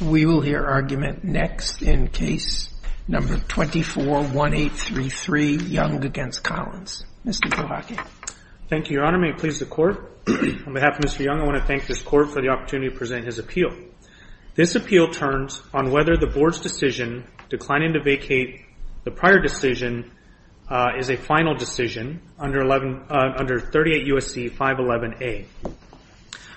We will hear argument next in Case No. 241833, Young v. Collins. Mr. Prohocky. Thank you, Your Honor. May it please the Court, on behalf of Mr. Young, I want to thank this Court for the opportunity to present his appeal. This appeal turns on whether the Board's decision, declining to vacate the prior decision, is a final decision under 38 U.S.C. 511a.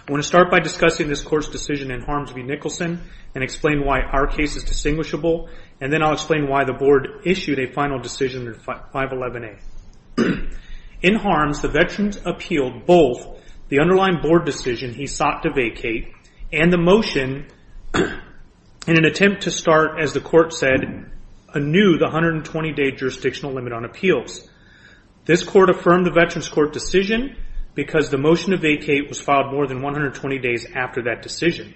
I want to start by discussing this Court's decision in Harms v. Nicholson and explain why our case is distinguishable, and then I'll explain why the Board issued a final decision under 511a. In Harms, the Veterans appealed both the underlying Board decision he sought to vacate and the motion in an attempt to start, as the Court said, anew the 120-day jurisdictional limit on appeals. This Court affirmed the Veterans Court decision because the motion to vacate was filed more than 120 days after that decision.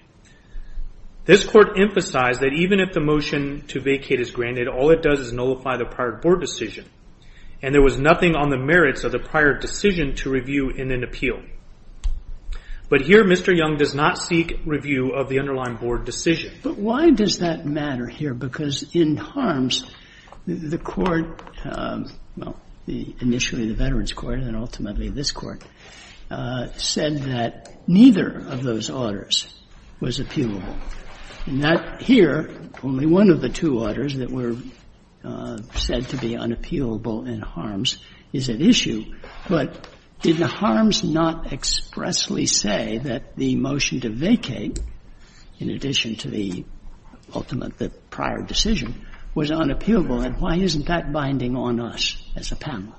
This Court emphasized that even if the motion to vacate is granted, all it does is nullify the prior Board decision, and there was nothing on the merits of the prior decision to review in an appeal. But here, Mr. Young does not seek review of the underlying Board decision. But why does that matter here? Because in Harms, the Court, well, initially the Veterans Court and ultimately this Court, said that neither of those orders was appealable. And that here, only one of the two orders that were said to be unappealable in Harms is at issue. But did the Harms not expressly say that the motion to vacate, in addition to the ultimate, the prior decision, was unappealable? And why isn't that binding on us as a panel?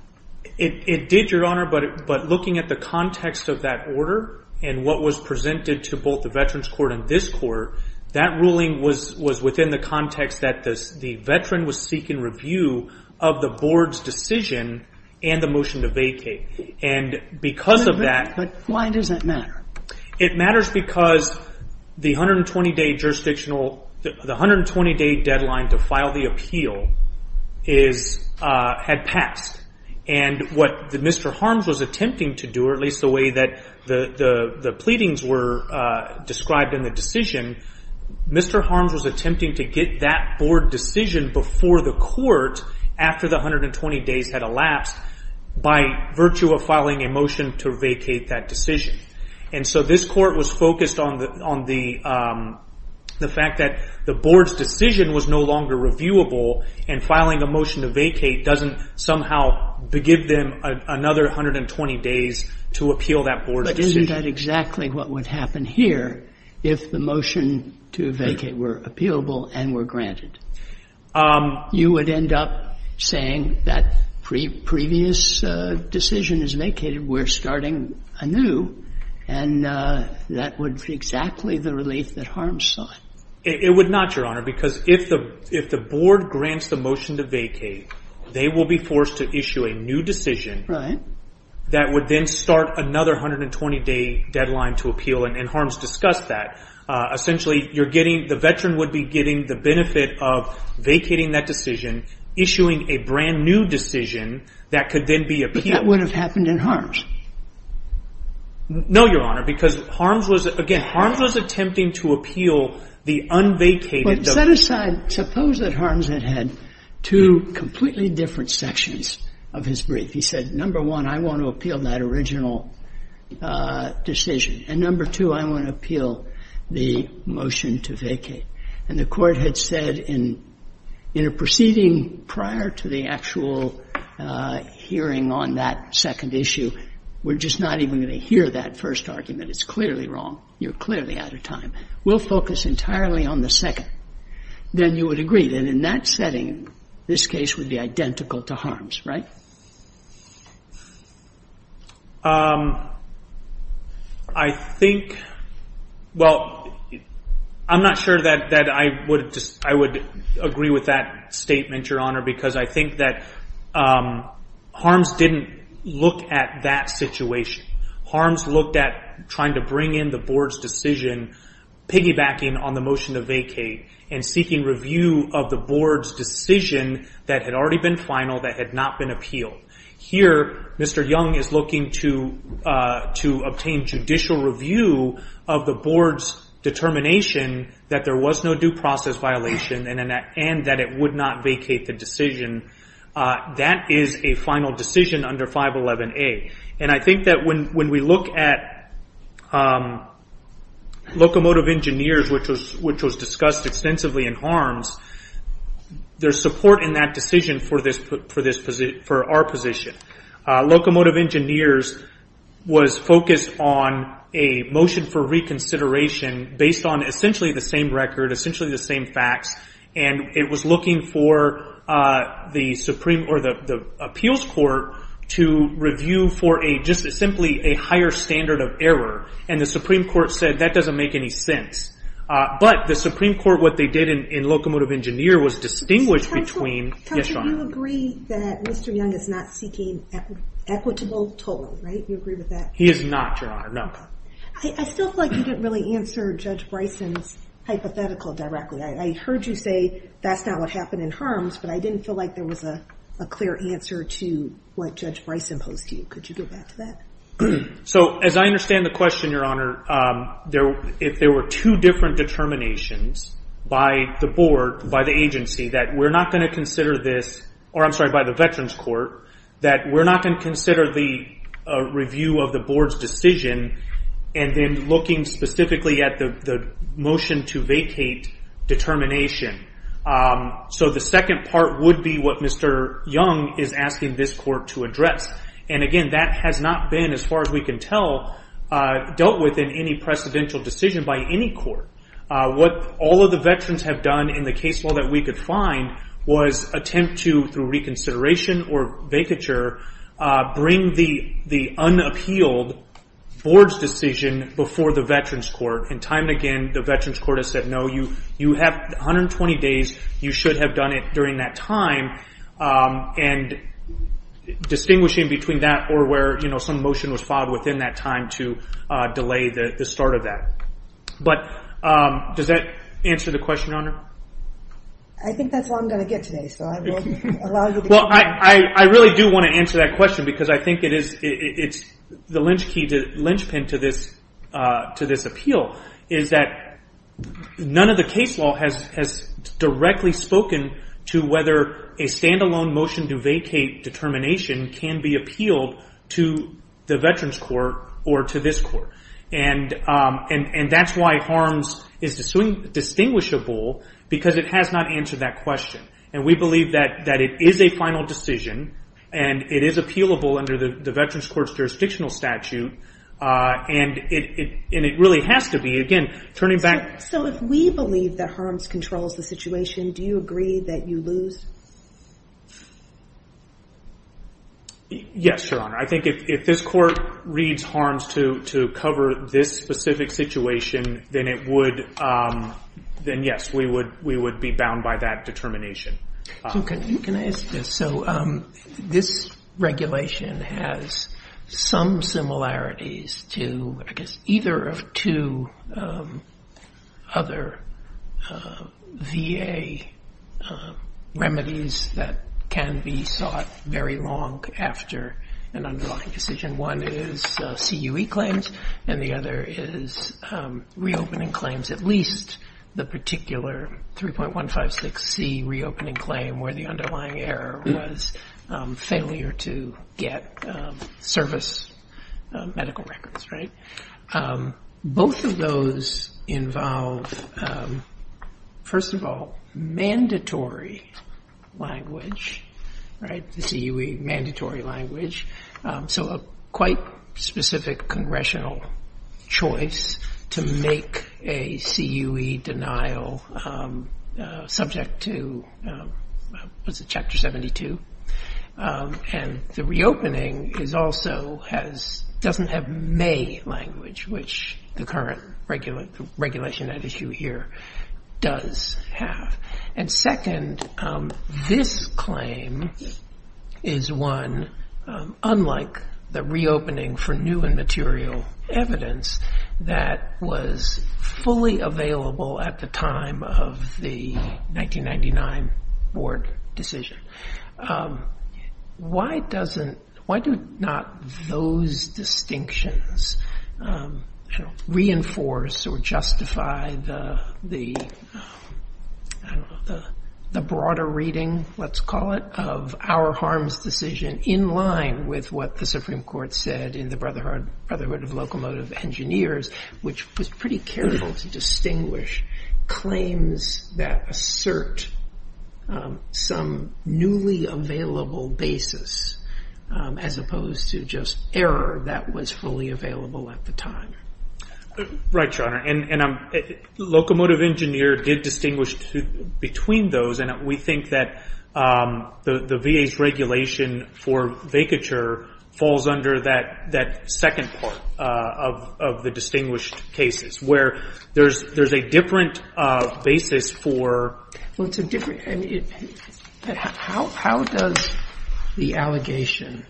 It did, Your Honor, but looking at the context of that order and what was presented to both the Veterans Court and this Court, that ruling was within the context that the Veteran was seeking review of the Board's decision and the motion to vacate. And because of that But why does that matter? It matters because the 120-day jurisdictional, the 120-day deadline to file the appeal is, had passed. And what Mr. Harms was attempting to do, or at least the way that the pleadings were described in the decision, Mr. Harms was attempting to get that Board decision before the Court, after the 120 days had elapsed, by virtue of filing a motion to vacate that decision. And so this Court was focused on the fact that the Board's decision was no longer reviewable and filing a motion to vacate doesn't somehow give them another 120 days to appeal that Board's decision. But isn't that exactly what would happen here if the motion to vacate were appealable and were granted? You would end up saying that previous decision is vacated, we're starting anew, and that would be exactly the relief that Harms sought. It would not, Your Honor, because if the Board grants the motion to vacate, they will be forced to issue a new decision that would then start another 120 day deadline to appeal and Harms discussed that. Essentially, the veteran would be getting the benefit of vacating that decision, issuing a brand new decision that could then be appealed. But that would have happened in Harms? No, Your Honor, because Harms was, again, Harms was attempting to appeal the unvacated But set aside, suppose that Harms had had two completely different sections of his brief. He said, number one, I want to appeal that original decision, and number two, I want to appeal the motion to vacate. And the Court had said in a proceeding prior to the actual hearing on that second issue, we're just not even going to hear that first argument. It's clearly wrong. You're clearly out of time. We'll focus entirely on the second. Then you would agree that in that setting, this case would be identical to Harms, right? I think, well, I'm not sure that I would agree with that statement, Your Honor, because I think that Harms didn't look at that situation. Harms looked at trying to bring in the board's decision, piggybacking on the motion to vacate, and seeking review of the board's decision that had already been final, that had not been appealed. Here, Mr. Young is looking to obtain judicial review of the board's determination that there would not vacate the decision. That is a final decision under 511A. I think that when we look at Locomotive Engineers, which was discussed extensively in Harms, there's support in that decision for our position. Locomotive Engineers was focused on a motion for reconsideration based on essentially the same record, essentially the same facts. It was looking for the appeals court to review for simply a higher standard of error. The Supreme Court said that doesn't make any sense. The Supreme Court, what they did in Locomotive Engineer was distinguish between... Judge, do you agree that Mr. Young is not seeking equitable total, right? Do you agree with that? He is not, Your Honor, no. I still feel like you didn't really answer Judge Bryson's hypothetical directly. I heard you say that's not what happened in Harms, but I didn't feel like there was a clear answer to what Judge Bryson posed to you. Could you go back to that? As I understand the question, Your Honor, if there were two different determinations by the board, by the agency, that we're not going to consider this, or I'm sorry, by the Veterans Court, that we're not going to consider the review of the board's decision and then looking specifically at the motion to vacate determination. The second part would be what Mr. Young is asking this court to address. Again, that has not been, as far as we can tell, dealt with in any precedential decision by any court. What all of the veterans have done in the case law that we could find was attempt to, through reconsideration or vacature, bring the unappealed board's decision before the Veterans Court. Time and again, the Veterans Court has said, no, you have 120 days. You should have done it during that time, and distinguishing between that or where some motion was filed within that time to delay the start of that. Does that answer the question, Your Honor? I think that's all I'm going to get today, so I will allow you to continue. I really do want to answer that question because I think it's the lynchpin to this appeal, is that none of the case law has directly spoken to whether a stand-alone motion to vacate determination can be appealed to the Veterans Court or to this court. That's why harms is distinguishable because it has not answered that question. We believe that it is a final decision, and it is appealable under the Veterans Court's jurisdictional statute. It really has to be, again, turning back. If we believe that harms controls the situation, do you agree that you lose? Yes, Your Honor. I think if this court reads harms to cover this specific situation, then yes, we would be bound by that determination. You can ask this. This regulation has some similarities to, I guess, either of two other VA remedies that can be sought very long after an underlying decision. One is CUE claims, and the other is reopening claims, at least the particular 3.156C reopening claim where the underlying error was failure to get service medical records. Both of those involve, first of all, mandatory language, the CUE mandatory language. So a quite specific congressional choice to make a CUE denial subject to, what's it, Chapter 72. And the reopening also doesn't have may language, which the current regulation at issue here does have. And second, this claim is one unlike the reopening for new and material evidence that was fully available at the time of the 1999 board decision. Why do not those distinctions reinforce or justify the broader reading, let's call it, of our harms decision in line with what the Supreme Court said in the Brotherhood of Locomotive Engineers, which was pretty careful to distinguish claims that assert some newly available basis as opposed to just error that was fully available at the time? Right, Your Honor, and Locomotive Engineer did distinguish between those, and we think that the VA's regulation for vacature falls under that second part of the distinguished cases where there's a different basis for... Well, it's a different, I mean, how does the allegation,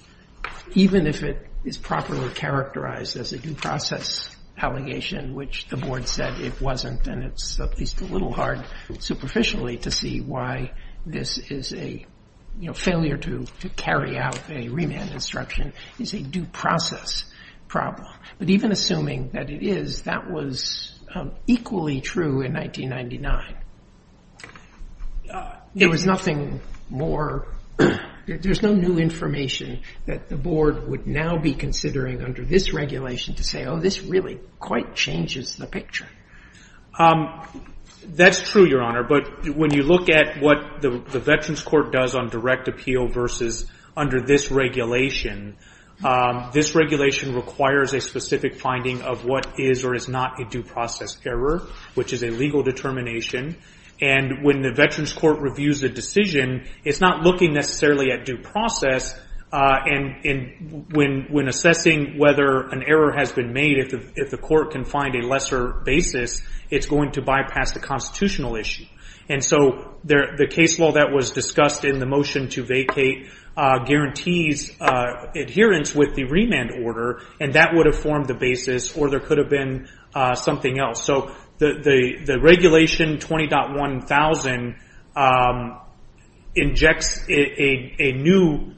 even if it is properly characterized as a due process allegation, which the board said it wasn't, and it's at least a little hard superficially to see why this is a failure to carry out a remand instruction, is a due process problem. But even assuming that it is, that was equally true in 1999. There was nothing more, there's no new information that the board would now be considering under this regulation to say, oh, this really quite changes the picture. That's true, Your Honor, but when you look at what the Veterans Court does on direct appeal versus under this regulation, this regulation requires a specific finding of what is or is not a due process error, which is a legal determination. And when the Veterans Court reviews a decision, it's not looking necessarily at due process, and when assessing whether an error has been made, if the court can find a lesser basis, it's going to bypass the constitutional issue. And so the case law that was discussed in the motion to vacate guarantees adherence with the remand order, and that would have formed the basis, or there could have been something else. So the regulation 20.1000 injects a new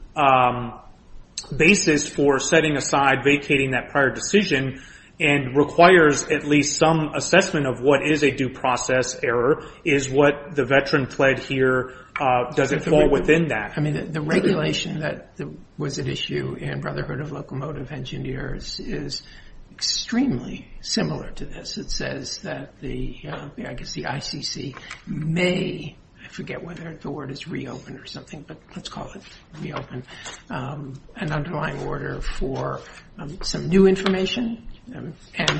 basis for setting aside vacating that prior decision and requires at least some assessment of what is a due process error. Is what the veteran pled here, does it fall within that? I mean, the regulation that was at issue in Brotherhood of Locomotive Engineers is extremely similar to this. It says that the, I guess the ICC may, I forget whether the word is reopen or something, but let's call it reopen, an underlying order for some new information,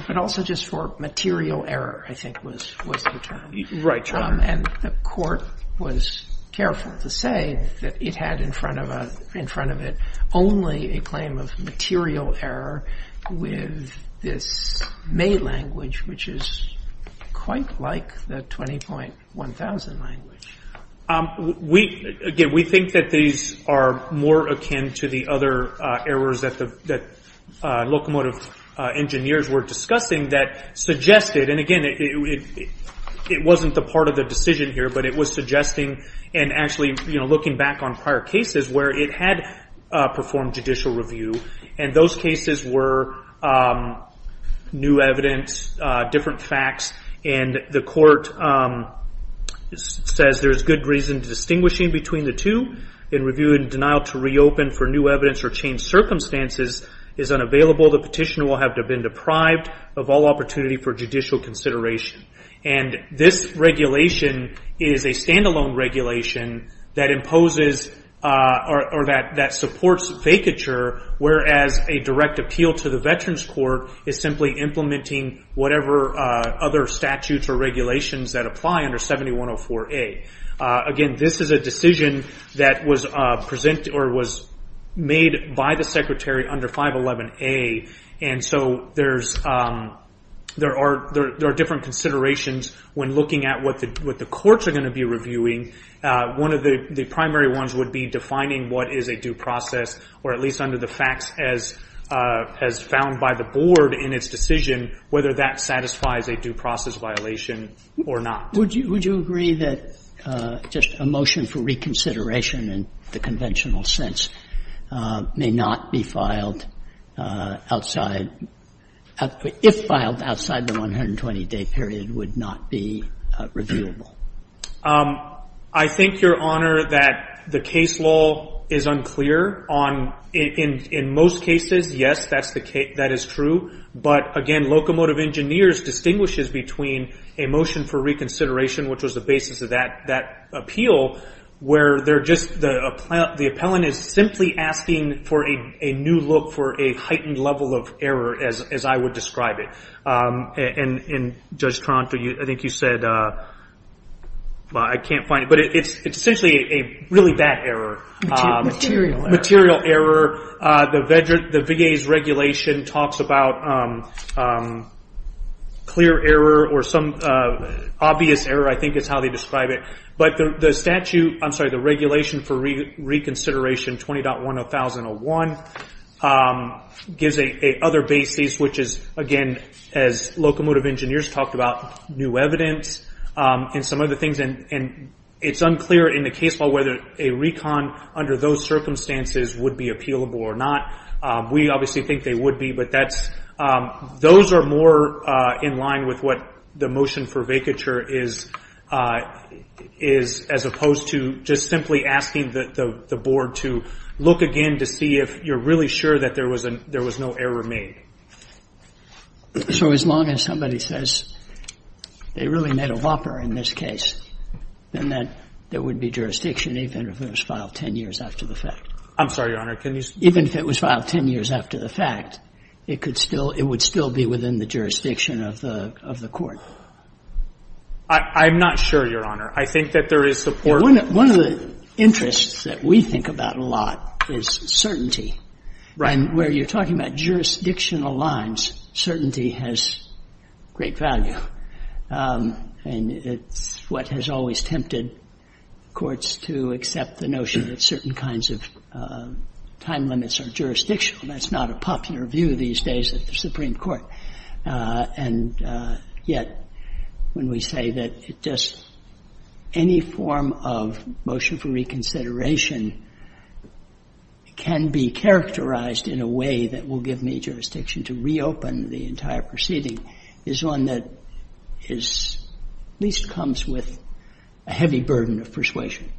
but also just for material error, I think was the term. Right, Your Honor. And the court was careful to say that it had in front of it only a claim of material error with this May language, which is quite like the 20.1000 language. We, again, we think that these are more akin to the other errors that the locomotive engineers were discussing that suggested, and again, it wasn't the part of the decision here, but it was suggesting and actually looking back on prior cases where it had performed judicial review, and those cases were new evidence, different facts, and the court says there's good reason distinguishing between the two. In review and denial to reopen for new evidence or change circumstances is unavailable. The petitioner will have to have been deprived of all opportunity for judicial consideration. And this regulation is a standalone regulation that imposes or that supports vacature, whereas a direct appeal to the Veterans Court is simply implementing whatever other statutes or regulations that apply under 7104A. Again, this is a decision that was made by the Secretary under 511A, and so there are different considerations when looking at what the courts are going to be reviewing. One of the primary ones would be defining what is a due process, or at least under the facts as found by the board in its decision, whether that satisfies a due process violation or not. Would you agree that just a motion for reconsideration in the conventional sense may not be filed if filed outside the 120-day period would not be reviewable? I think, Your Honor, that the case law is unclear. In most cases, yes, that is true. But, again, Locomotive Engineers distinguishes between a motion for reconsideration, which was the basis of that appeal, where the appellant is simply asking for a new look for a heightened level of error, as I would describe it. And, Judge Tronto, I think you said, well, I can't find it, but it's essentially a really bad error. Material error. Material error. The VA's regulation talks about clear error or some obvious error, I think is how they describe it. But the statute, I'm sorry, the regulation for reconsideration 20.1001 gives a other basis, which is, again, as Locomotive Engineers talked about, new evidence and some other things. And it's unclear in the case law whether a recon under those circumstances would be appealable or not. We obviously think they would be. But that's, those are more in line with what the motion for vacature is, as opposed to just simply asking the board to look again to see if you're really sure that there was no error made. So as long as somebody says they really made a whopper in this case, then there would be jurisdiction even if it was filed 10 years after the fact. I'm sorry, Your Honor. Even if it was filed 10 years after the fact, it could still, it would still be within the jurisdiction of the court. I'm not sure, Your Honor. I think that there is support. One of the interests that we think about a lot is certainty. Right. And where you're talking about jurisdictional lines, certainty has great value. And it's what has always tempted courts to accept the notion that certain kinds of time limits are jurisdictional. That's not a popular view these days at the Supreme Court. And yet, when we say that just any form of motion for reconsideration can be characterized in a way that will give me jurisdiction to reopen the entire proceeding is one that at least comes with a heavy burden of persuasion.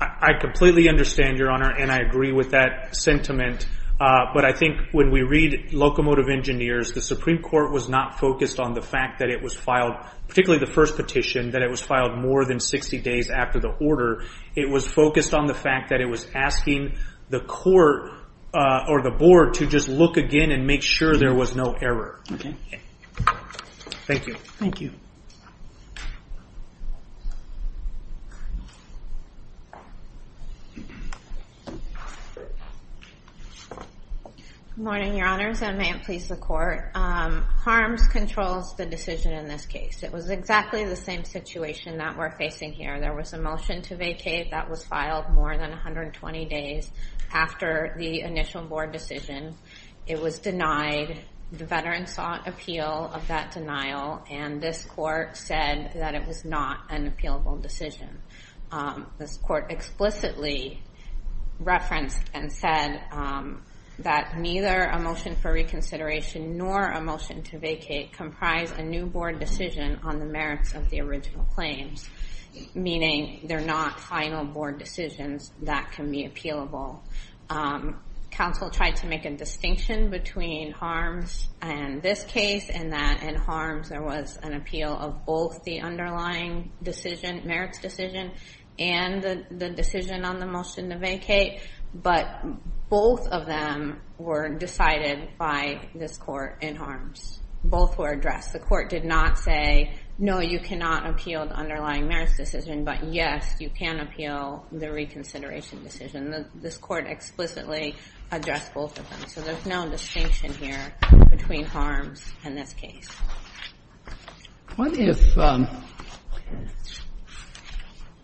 I completely understand, Your Honor, and I agree with that sentiment. But I think when we read Locomotive Engineers, the Supreme Court was not focused on the fact that it was filed, particularly the first petition, that it was filed more than 60 days after the order. It was focused on the fact that it was asking the court or the board to just look again and make sure there was no error. Thank you. Thank you. Good morning, Your Honors, and may it please the Court. Harms controls the decision in this case. It was exactly the same situation that we're facing here. There was a motion to vacate that was filed more than 120 days after the initial board decision. It was denied. The veterans sought appeal of that denial, and this court said that it was not an appealable decision. This court explicitly referenced and said that neither a motion for reconsideration nor a motion to vacate comprise a new board decision on the merits of the original claims, meaning they're not final board decisions that can be appealable. Counsel tried to make a distinction between Harms and this case, and that in Harms there was an appeal of both the underlying decision, merits decision, and the decision on the motion to vacate, but both of them were decided by this court in Harms. Both were addressed. The court did not say, no, you cannot appeal the underlying merits decision, but, yes, you can appeal the reconsideration decision. This court explicitly addressed both of them. So there's no distinction here between Harms and this case. What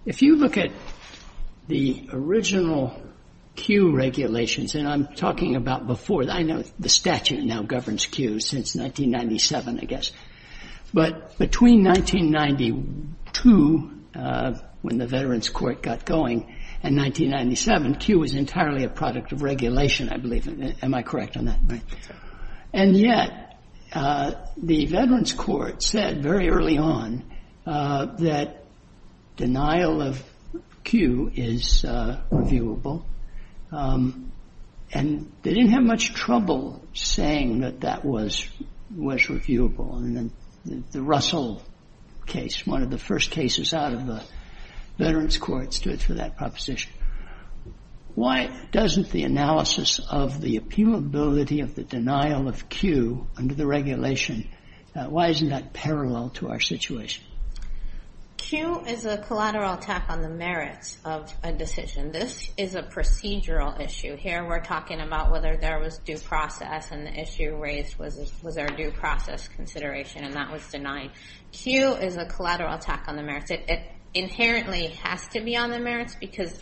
if you look at the original Q regulations, and I'm talking about before. I know the statute now governs Q since 1997, I guess. But between 1992, when the veterans court got going, and 1997, Q was entirely a product of regulation, I believe. Am I correct on that? And yet the veterans court said very early on that denial of Q is reviewable, and they didn't have much trouble saying that that was reviewable. And then the Russell case, one of the first cases out of the veterans court, stood for that proposition. Why doesn't the analysis of the appealability of the denial of Q under the regulation, why isn't that parallel to our situation? Q is a collateral attack on the merits of a decision. This is a procedural issue. Here we're talking about whether there was due process, and the issue raised was our due process consideration, and that was denied. Q is a collateral attack on the merits. It inherently has to be on the merits because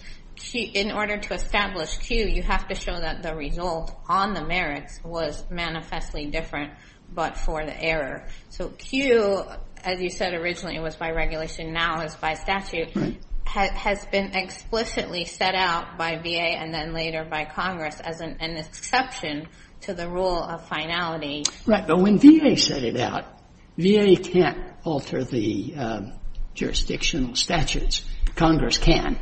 in order to establish Q, you have to show that the result on the merits was manifestly different, but for the error. So Q, as you said originally was by regulation, now is by statute, has been explicitly set out by VA and then later by Congress as an exception to the rule of finality. Right. But when VA set it out, VA can't alter the jurisdictional statutes. Congress can.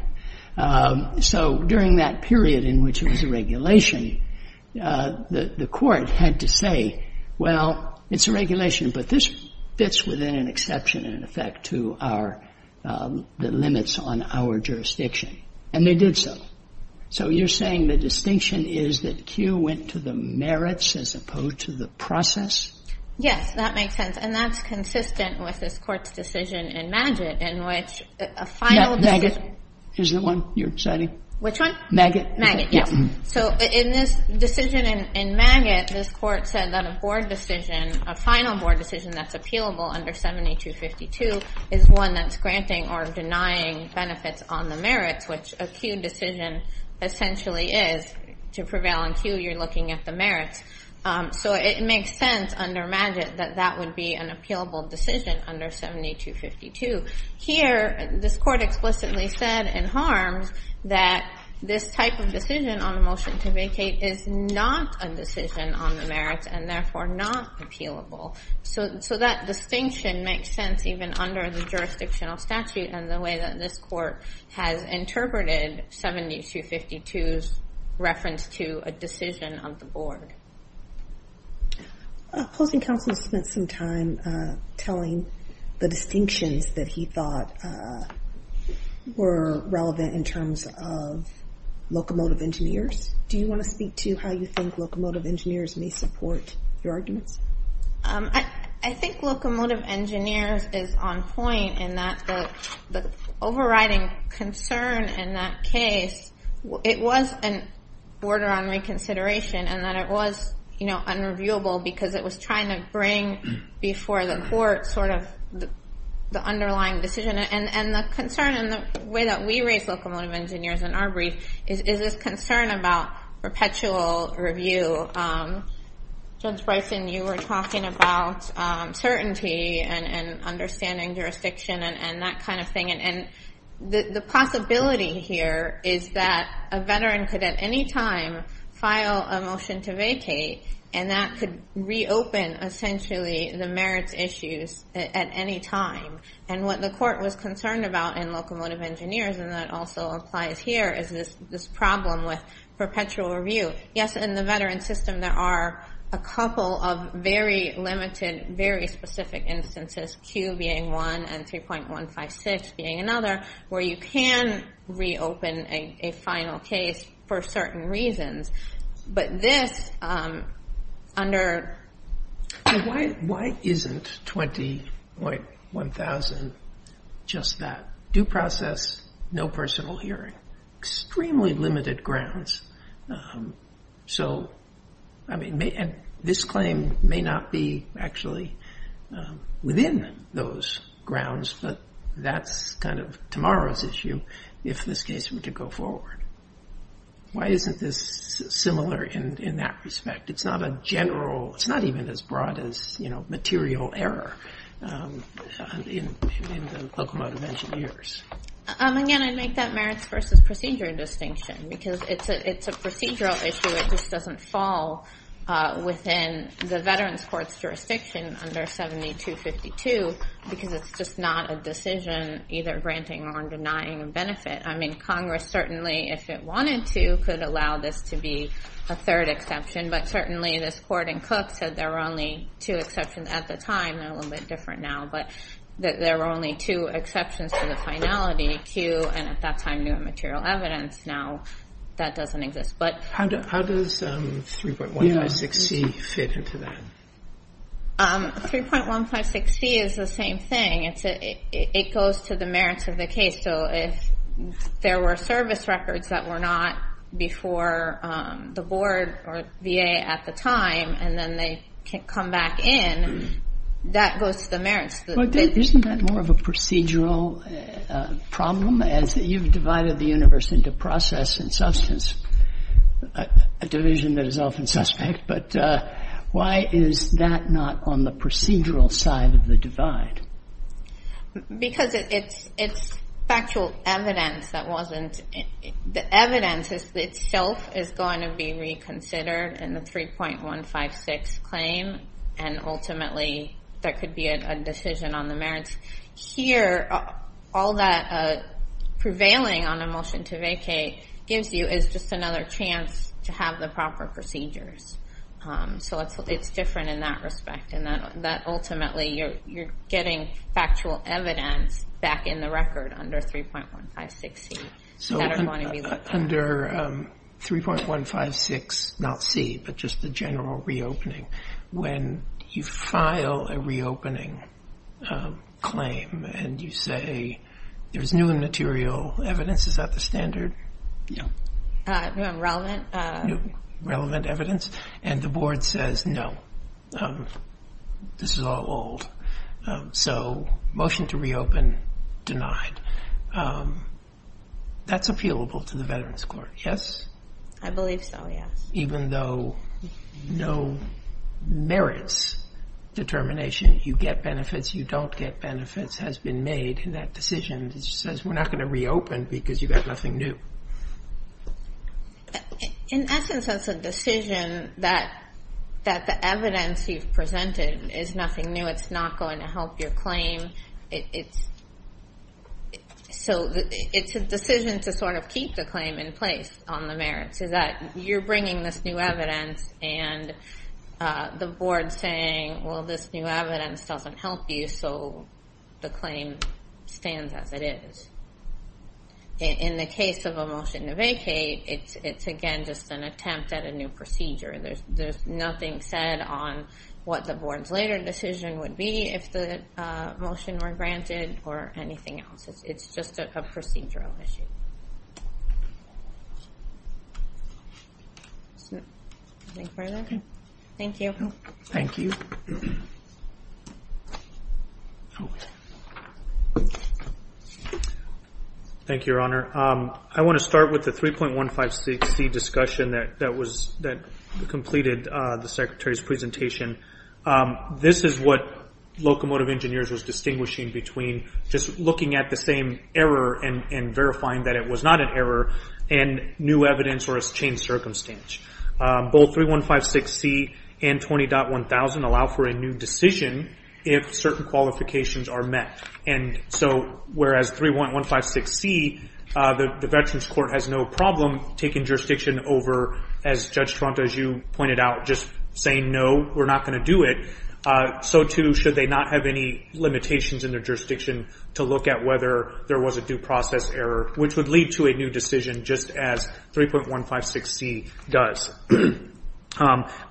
So during that period in which it was a regulation, the court had to say, well, it's a regulation, but this fits within an exception in effect to our, the limits on our jurisdiction. And they did so. So you're saying the distinction is that Q went to the merits as opposed to the process? Yes. That makes sense. And that's consistent with this Court's decision in Maggott in which a final decision Maggott is the one you're citing? Which one? Maggott. Maggott, yes. So in this decision in Maggott, this Court said that a board decision, a final board decision that's appealable under 7252, is one that's granting or denying benefits on the merits, which a Q decision essentially is. To prevail on Q, you're looking at the merits. So it makes sense under Maggott that that would be an appealable decision under 7252. Here, this Court explicitly said in Harms that this type of decision on a motion to vacate is not a decision on the merits and therefore not appealable. So that distinction makes sense even under the jurisdictional statute and the way that this Court has interpreted 7252's reference to a decision of the board. Opposing counsel spent some time telling the distinctions that he thought were relevant in terms of locomotive engineers. Do you want to speak to how you think locomotive engineers may support your arguments? I think locomotive engineers is on point in that the overriding concern in that case, it was an order on reconsideration and that it was unreviewable because it was trying to bring before the Court sort of the underlying decision. And the concern and the way that we raise locomotive engineers in our brief is this concern about perpetual review. Judge Bryson, you were talking about certainty and understanding jurisdiction and that kind of thing. And the possibility here is that a veteran could at any time file a motion to vacate and that could reopen essentially the merits issues at any time. And what the Court was concerned about in locomotive engineers, and that also applies here, is this problem with perpetual review. Yes, in the veteran system there are a couple of very limited, very specific instances, Q being one and 3.156 being another, where you can reopen a final case for certain reasons. Why isn't 20.1000 just that? Due process, no personal hearing. Extremely limited grounds. This claim may not be actually within those grounds, but that's kind of tomorrow's issue if this case were to go forward. Why isn't this similar in that respect? It's not a general, it's not even as broad as material error in the locomotive engineers. Again, I'd make that merits versus procedure distinction because it's a procedural issue. It just doesn't fall within the veterans court's jurisdiction under 7252 because it's just not a decision either granting or denying benefit. I mean, Congress certainly, if it wanted to, could allow this to be a third exception, but certainly this court in Cook said there were only two exceptions at the time. They're a little bit different now, but there were only two exceptions to the finality, Q and at that time new material evidence. Now that doesn't exist. How does 3.156C fit into that? 3.156C is the same thing. It goes to the merits of the case. So if there were service records that were not before the board or VA at the time and then they come back in, that goes to the merits. Isn't that more of a procedural problem as you've divided the universe into process and substance, a division that is often suspect, but why is that not on the procedural side of the divide? Because it's factual evidence that wasn't. The evidence itself is going to be reconsidered in the 3.156 claim, and ultimately there could be a decision on the merits. Here, all that prevailing on a motion to vacate gives you is just another chance to have the proper procedures. So it's different in that respect, and that ultimately you're getting factual evidence back in the record under 3.156C. So under 3.156, not C, but just the general reopening, when you file a reopening claim and you say there's new material evidence, is that the standard? Relevant. Relevant evidence, and the board says no. This is all old. So motion to reopen denied. That's appealable to the Veterans Court, yes? I believe so, yes. Even though no merits determination, you get benefits, you don't get benefits, has been made in that decision, and it says we're not going to reopen because you've got nothing new. In essence, that's a decision that the evidence you've presented is nothing new. It's not going to help your claim. It's a decision to sort of keep the claim in place on the merits, is that you're bringing this new evidence, and the board's saying, well, this new evidence doesn't help you, and so the claim stands as it is. In the case of a motion to vacate, it's again just an attempt at a new procedure. There's nothing said on what the board's later decision would be if the motion were granted or anything else. It's just a procedural issue. Anything further? Thank you. Thank you. Okay. Thank you, Your Honor. I want to start with the 3.156C discussion that completed the Secretary's presentation. This is what Locomotive Engineers was distinguishing between just looking at the same error and verifying that it was not an error, and new evidence or a changed circumstance. Both 3.156C and 20.1000 allow for a new decision if certain qualifications are met. So whereas 3.156C, the Veterans Court has no problem taking jurisdiction over, as Judge Tronta, as you pointed out, just saying, no, we're not going to do it, so too should they not have any limitations in their jurisdiction to look at whether there was a due process error, which would lead to a new decision just as 3.156C does.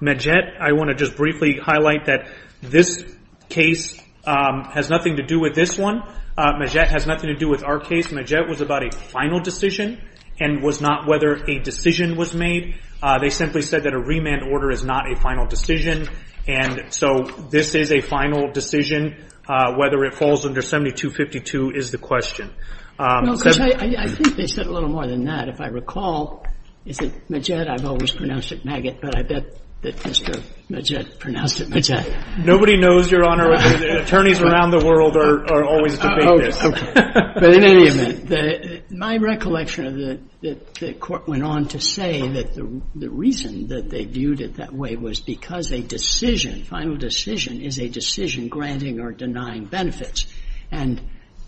Majette, I want to just briefly highlight that this case has nothing to do with this one. Majette has nothing to do with our case. Majette was about a final decision and was not whether a decision was made. They simply said that a remand order is not a final decision, and so this is a final decision. Whether it falls under 7252 is the question. No, because I think they said a little more than that. If I recall, is it Majette? I've always pronounced it maggot, but I bet that Mr. Majette pronounced it Majette. Nobody knows, Your Honor, attorneys around the world are always debating this. But in any event. My recollection of the court went on to say that the reason that they viewed it that way was because a decision, final decision, is a decision granting or denying benefits, and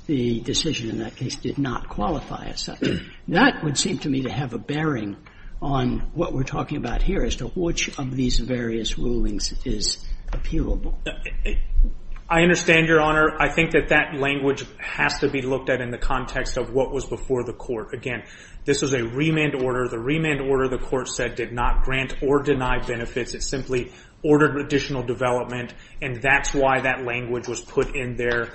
the decision in that case did not qualify as such. That would seem to me to have a bearing on what we're talking about here, as to which of these various rulings is appealable. I understand, Your Honor. I think that that language has to be looked at in the context of what was before the court. Again, this was a remand order. The remand order, the court said, did not grant or deny benefits. It simply ordered additional development, and that's why that language was put in there.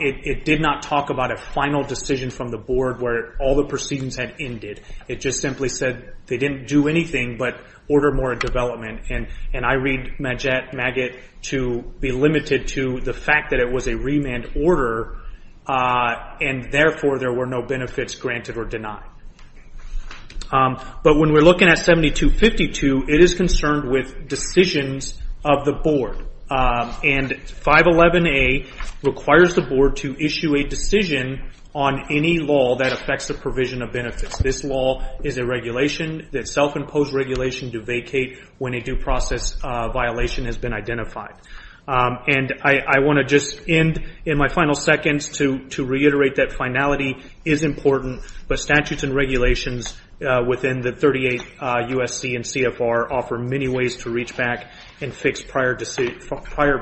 It did not talk about a final decision from the board where all the proceedings had ended. It just simply said they didn't do anything but order more development. And I read Majette, maggot, to be limited to the fact that it was a remand order, and therefore there were no benefits granted or denied. But when we're looking at 7252, it is concerned with decisions of the board. And 511A requires the board to issue a decision on any law that affects the provision of benefits. This law is a regulation, a self-imposed regulation, to vacate when a due process violation has been identified. And I want to just end in my final seconds to reiterate that finality is important, but statutes and regulations within the 38 USC and CFR offer many ways to reach back and fix prior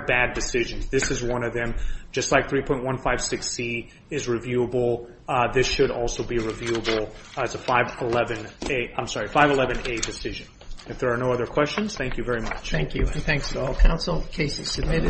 bad decisions. This is one of them. Just like 3.156C is reviewable, this should also be reviewable as a 511A decision. If there are no other questions, thank you very much. Thank you. Thanks to all counsel. Case is submitted.